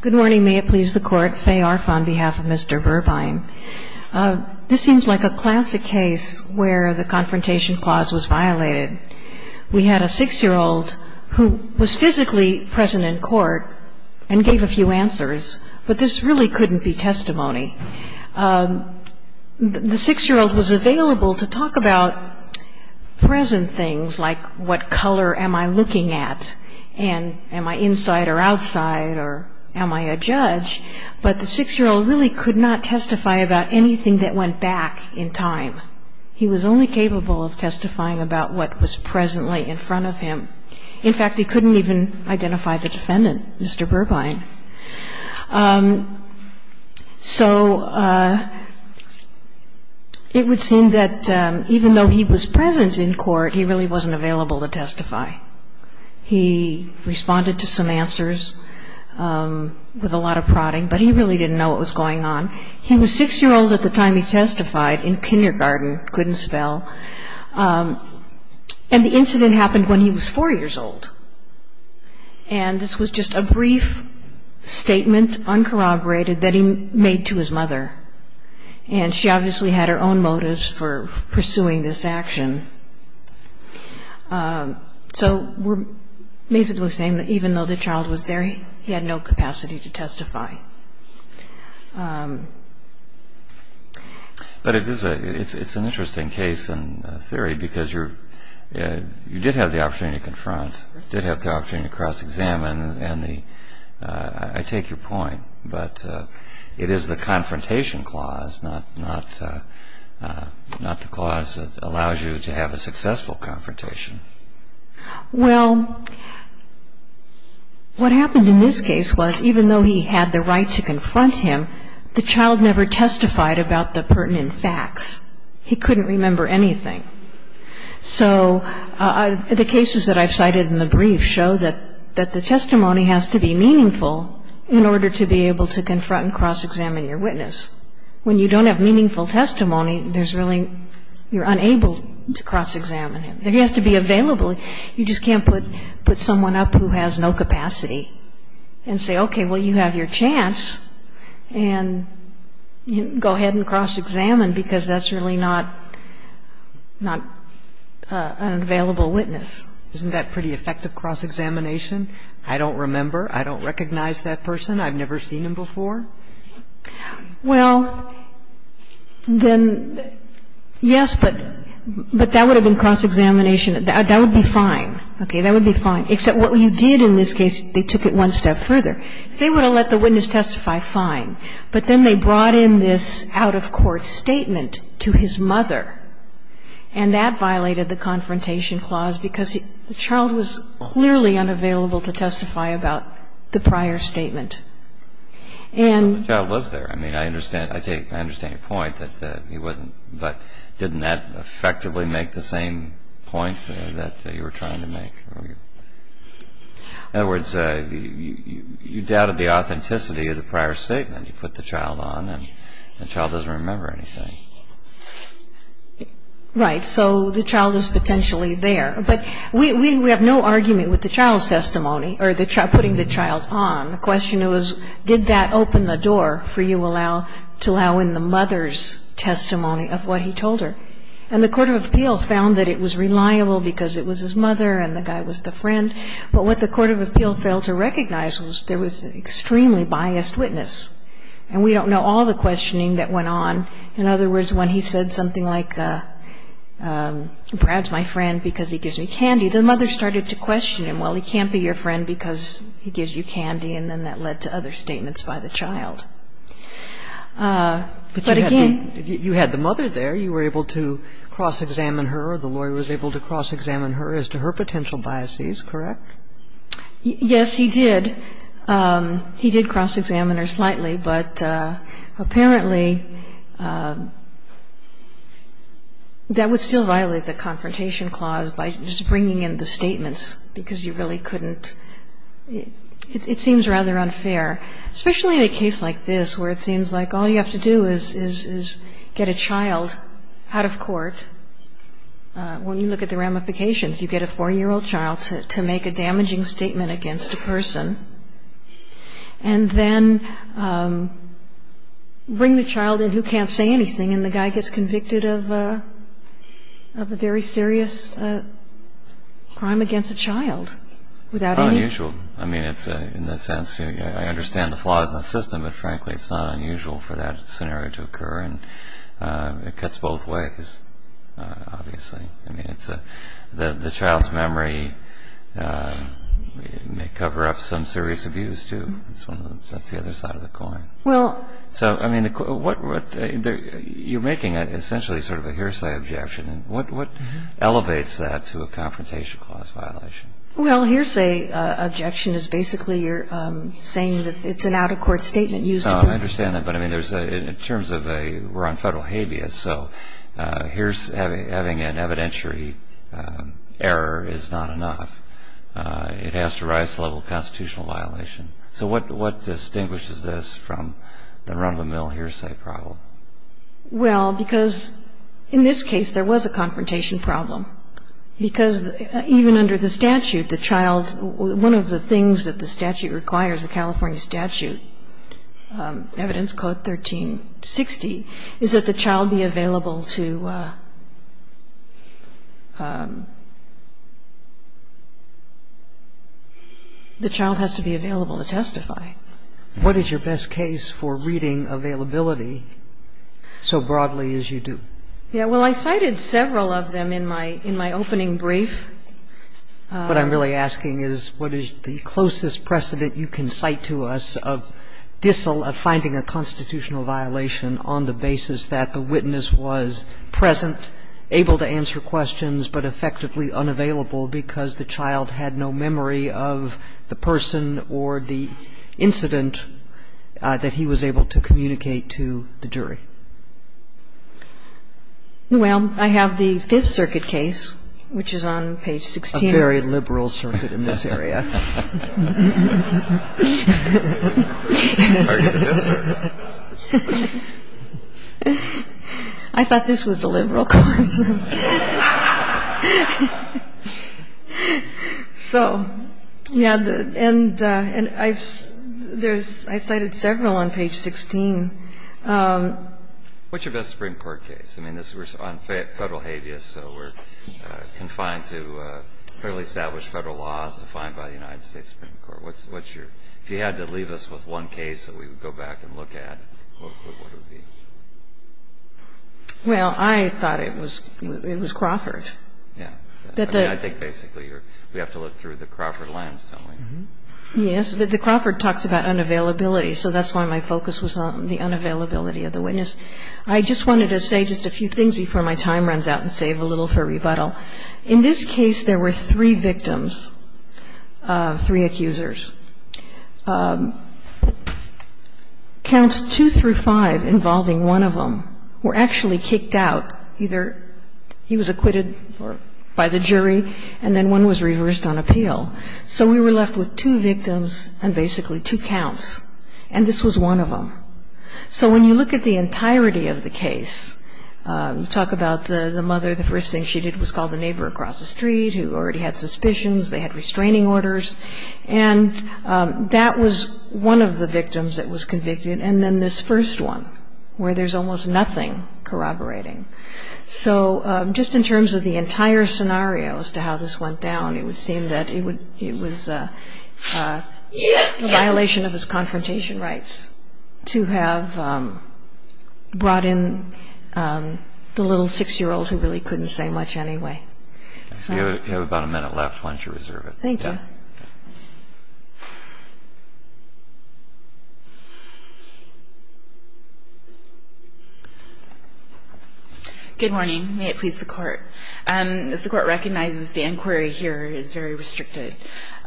Good morning. May it please the Court, Faye Arf on behalf of Mr. Burbine. This seems like a classic case where the confrontation clause was violated. We had a six-year-old who was physically present in court and gave a few answers, but this really couldn't be testimony. The six-year-old was available to talk about present things like what color am I looking at and am I inside or outside or am I a judge? But the six-year-old really could not testify about anything that went back in time. He was only capable of testifying about what was presently in front of him. In fact, he couldn't even identify the defendant, Mr. Burbine. So it would seem that even though he was present in court, he really wasn't available to testify. He responded to some answers with a lot of prodding, but he really didn't know what was going on. He was six-year-old at the time he testified in kindergarten, couldn't spell. And the incident happened when he was four years old. And this was just a brief statement, uncorroborated, that he made to his mother. And she obviously had her own motives for pursuing this action. So we're basically saying that even though the child was there, he had no capacity to testify. But it's an interesting case in theory because you did have the opportunity to confront, did have the opportunity to cross-examine. And I take your point, but it is the confrontation clause, not the clause that allows you to have a successful confrontation. Well, what happened in this case was even though he had the right to confront him, the child never testified about the pertinent facts. He couldn't remember anything. So the cases that I've cited in the brief show that the testimony has to be meaningful in order to be able to confront and cross-examine your witness. When you don't have meaningful testimony, there's really you're unable to cross-examine him. He has to be available. You just can't put someone up who has no capacity and say, okay, well, you have your chance, and go ahead and cross-examine because that's really not an available witness. Isn't that pretty effective cross-examination? I don't remember. I don't recognize that person. I've never seen him before. Well, then, yes, but that would have been cross-examination. That would be fine. Okay? That would be fine. Except what you did in this case, they took it one step further. They would have let the witness testify, fine. But then they brought in this out-of-court statement to his mother, and that violated the confrontation clause because the child was clearly unavailable to testify about the prior statement. Well, the child was there. I mean, I understand your point, but didn't that effectively make the same point that you were trying to make? In other words, you doubted the authenticity of the prior statement. You put the child on, and the child doesn't remember anything. Right. So the child is potentially there. But we have no argument with the child's testimony or putting the child on. The question was, did that open the door for you to allow in the mother's testimony of what he told her? And the court of appeal found that it was reliable because it was his mother and the guy was the friend. But what the court of appeal failed to recognize was there was an extremely biased witness. And we don't know all the questioning that went on. In other words, when he said something like, Brad's my friend because he gives me candy, the mother started to question him. Well, he can't be your friend because he gives you candy, and then that led to other statements by the child. But again But you had the mother there. You were able to cross-examine her or the lawyer was able to cross-examine her as to her potential biases, correct? Yes, he did. He did cross-examine her slightly. because you really couldn't. It seems rather unfair, especially in a case like this where it seems like all you have to do is get a child out of court. When you look at the ramifications, you get a four-year-old child to make a damaging statement against a person and then bring the child in who can't say anything, and the guy gets convicted of a very serious crime against a child. It's not unusual. I understand the flaws in the system, but frankly it's not unusual for that scenario to occur. It cuts both ways, obviously. The child's memory may cover up some serious abuse, too. That's the other side of the coin. You're making essentially sort of a hearsay objection. What elevates that to a confrontation clause violation? Well, hearsay objection is basically you're saying that it's an out-of-court statement used to prove... I understand that, but we're on federal habeas, so having an evidentiary error is not enough. It has to rise to the level of a constitutional violation. So what distinguishes this from the run-of-the-mill hearsay problem? Well, because in this case there was a confrontation problem, because even under the statute, the child one of the things that the statute requires, the California statute, Evidence Code 1360, is that the child be available to... The child has to be available to testify. What is your best case for reading availability so broadly as you do? Well, I cited several of them in my opening brief. What I'm really asking is what is the closest precedent you can cite to us of finding a constitutional violation on the basis that the witness was present, able to answer questions, but effectively unavailable because the child had no memory of the person or the incident that he was able to communicate to the jury? Well, I have the Fifth Circuit case, which is on page 16. A very liberal circuit in this area. I thought this was the liberal court. So, yeah, and I've cited several on page 16. What's your best Supreme Court case? I mean, this was on federal habeas, so we're confined to fairly established federal laws defined by the United States Supreme Court. If you had to leave us with one case that we would go back and look at, what would it be? Well, I thought it was Crawford. Yeah. I think basically we have to look through the Crawford lens, don't we? Yes. But the Crawford talks about unavailability. So that's why my focus was on the unavailability of the witness. I just wanted to say just a few things before my time runs out and save a little for rebuttal. In this case, there were three victims, three accusers. Counts two through five involving one of them were actually kicked out. Either he was acquitted by the jury, and then one was reversed on appeal. So we were left with two victims and basically two counts, and this was one of them. So when you look at the entirety of the case, you talk about the mother, the first thing she did was call the neighbor across the street who already had suspicions. They had restraining orders. And that was one of the victims that was convicted. And then this first one, where there's almost nothing corroborating. So just in terms of the entire scenario as to how this went down, it would seem that it was a violation of his confrontation rights to have brought in the little 6-year-old who really couldn't say much anyway. So you have about a minute left. Why don't you reserve it? Thank you. Good morning. May it please the Court. As the Court recognizes, the inquiry here is very restricted.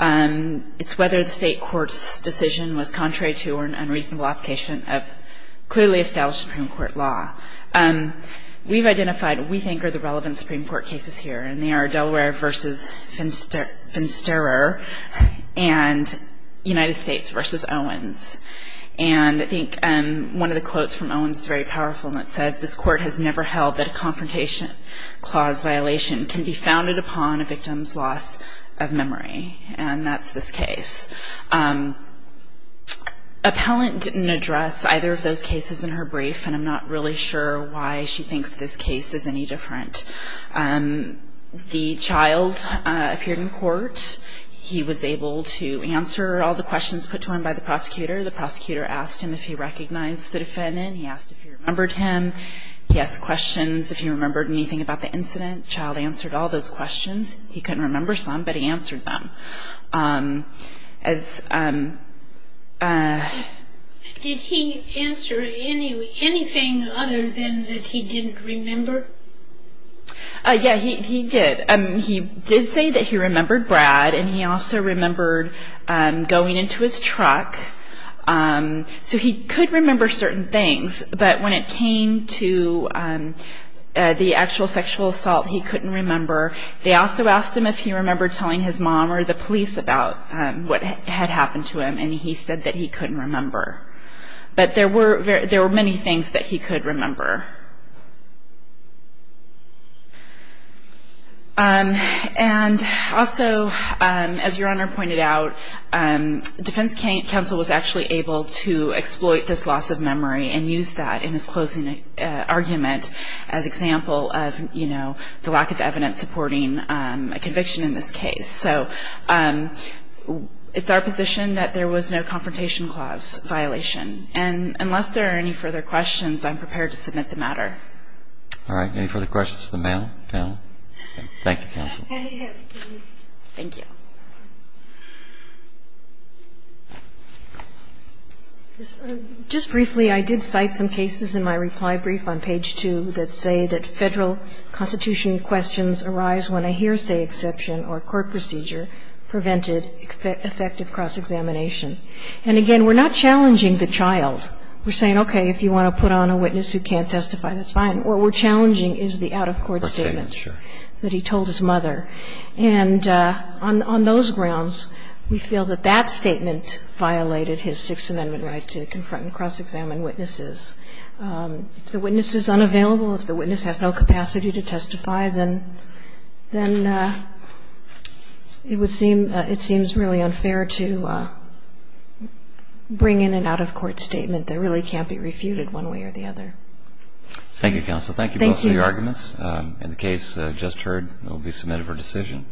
It's whether the state court's decision was contrary to or an unreasonable application of clearly established Supreme Court law. We've identified what we think are the relevant Supreme Court cases here, and they are Delaware v. Finsterer and United States v. Owens. And I think one of the quotes from Owens is very powerful, and it says, this Court has never held that a confrontation clause violation can be founded upon a victim's loss of memory. And that's this case. Appellant didn't address either of those cases in her brief, and I'm not really sure why she thinks this case is any different. The child appeared in court. He was able to answer all the questions put to him by the prosecutor. The prosecutor asked him if he recognized the defendant. He asked if he remembered him. He asked questions, if he remembered anything about the incident. The child answered all those questions. He couldn't remember some, but he answered them. Did he answer anything other than that he didn't remember? Yeah, he did. He did say that he remembered Brad, and he also remembered going into his truck. So he could remember certain things, but when it came to the actual sexual assault, he couldn't remember. They also asked him if he remembered telling his mom or the police about what had happened to him, and he said that he couldn't remember. But there were many things that he could remember. And also, as Your Honor pointed out, defense counsel was actually able to exploit this loss of memory and use that in his closing argument as example of, you know, the lack of evidence supporting a conviction in this case. So it's our position that there was no confrontation clause violation, and unless there are any further questions, I'm prepared to submit the matter. All right. Any further questions of the panel? Thank you, counsel. Thank you. Just briefly, I did cite some cases in my reply brief on page 2 that say that federal constitution questions arise when a hearsay exception or court procedure prevented effective cross-examination. And again, we're not challenging the child. We're saying, okay, if you want to put on a witness who can't testify, that's fine. What we're challenging is the out-of-court statement that he told his mother. And on those grounds, we feel that that statement violated his Sixth Amendment right to confront and cross-examine witnesses. If the witness is unavailable, if the witness has no capacity to testify, then it seems really unfair to bring in an out-of-court statement that really can't be refuted one way or the other. Thank you, counsel. Thank you both for your arguments. And the case just heard will be submitted for decision.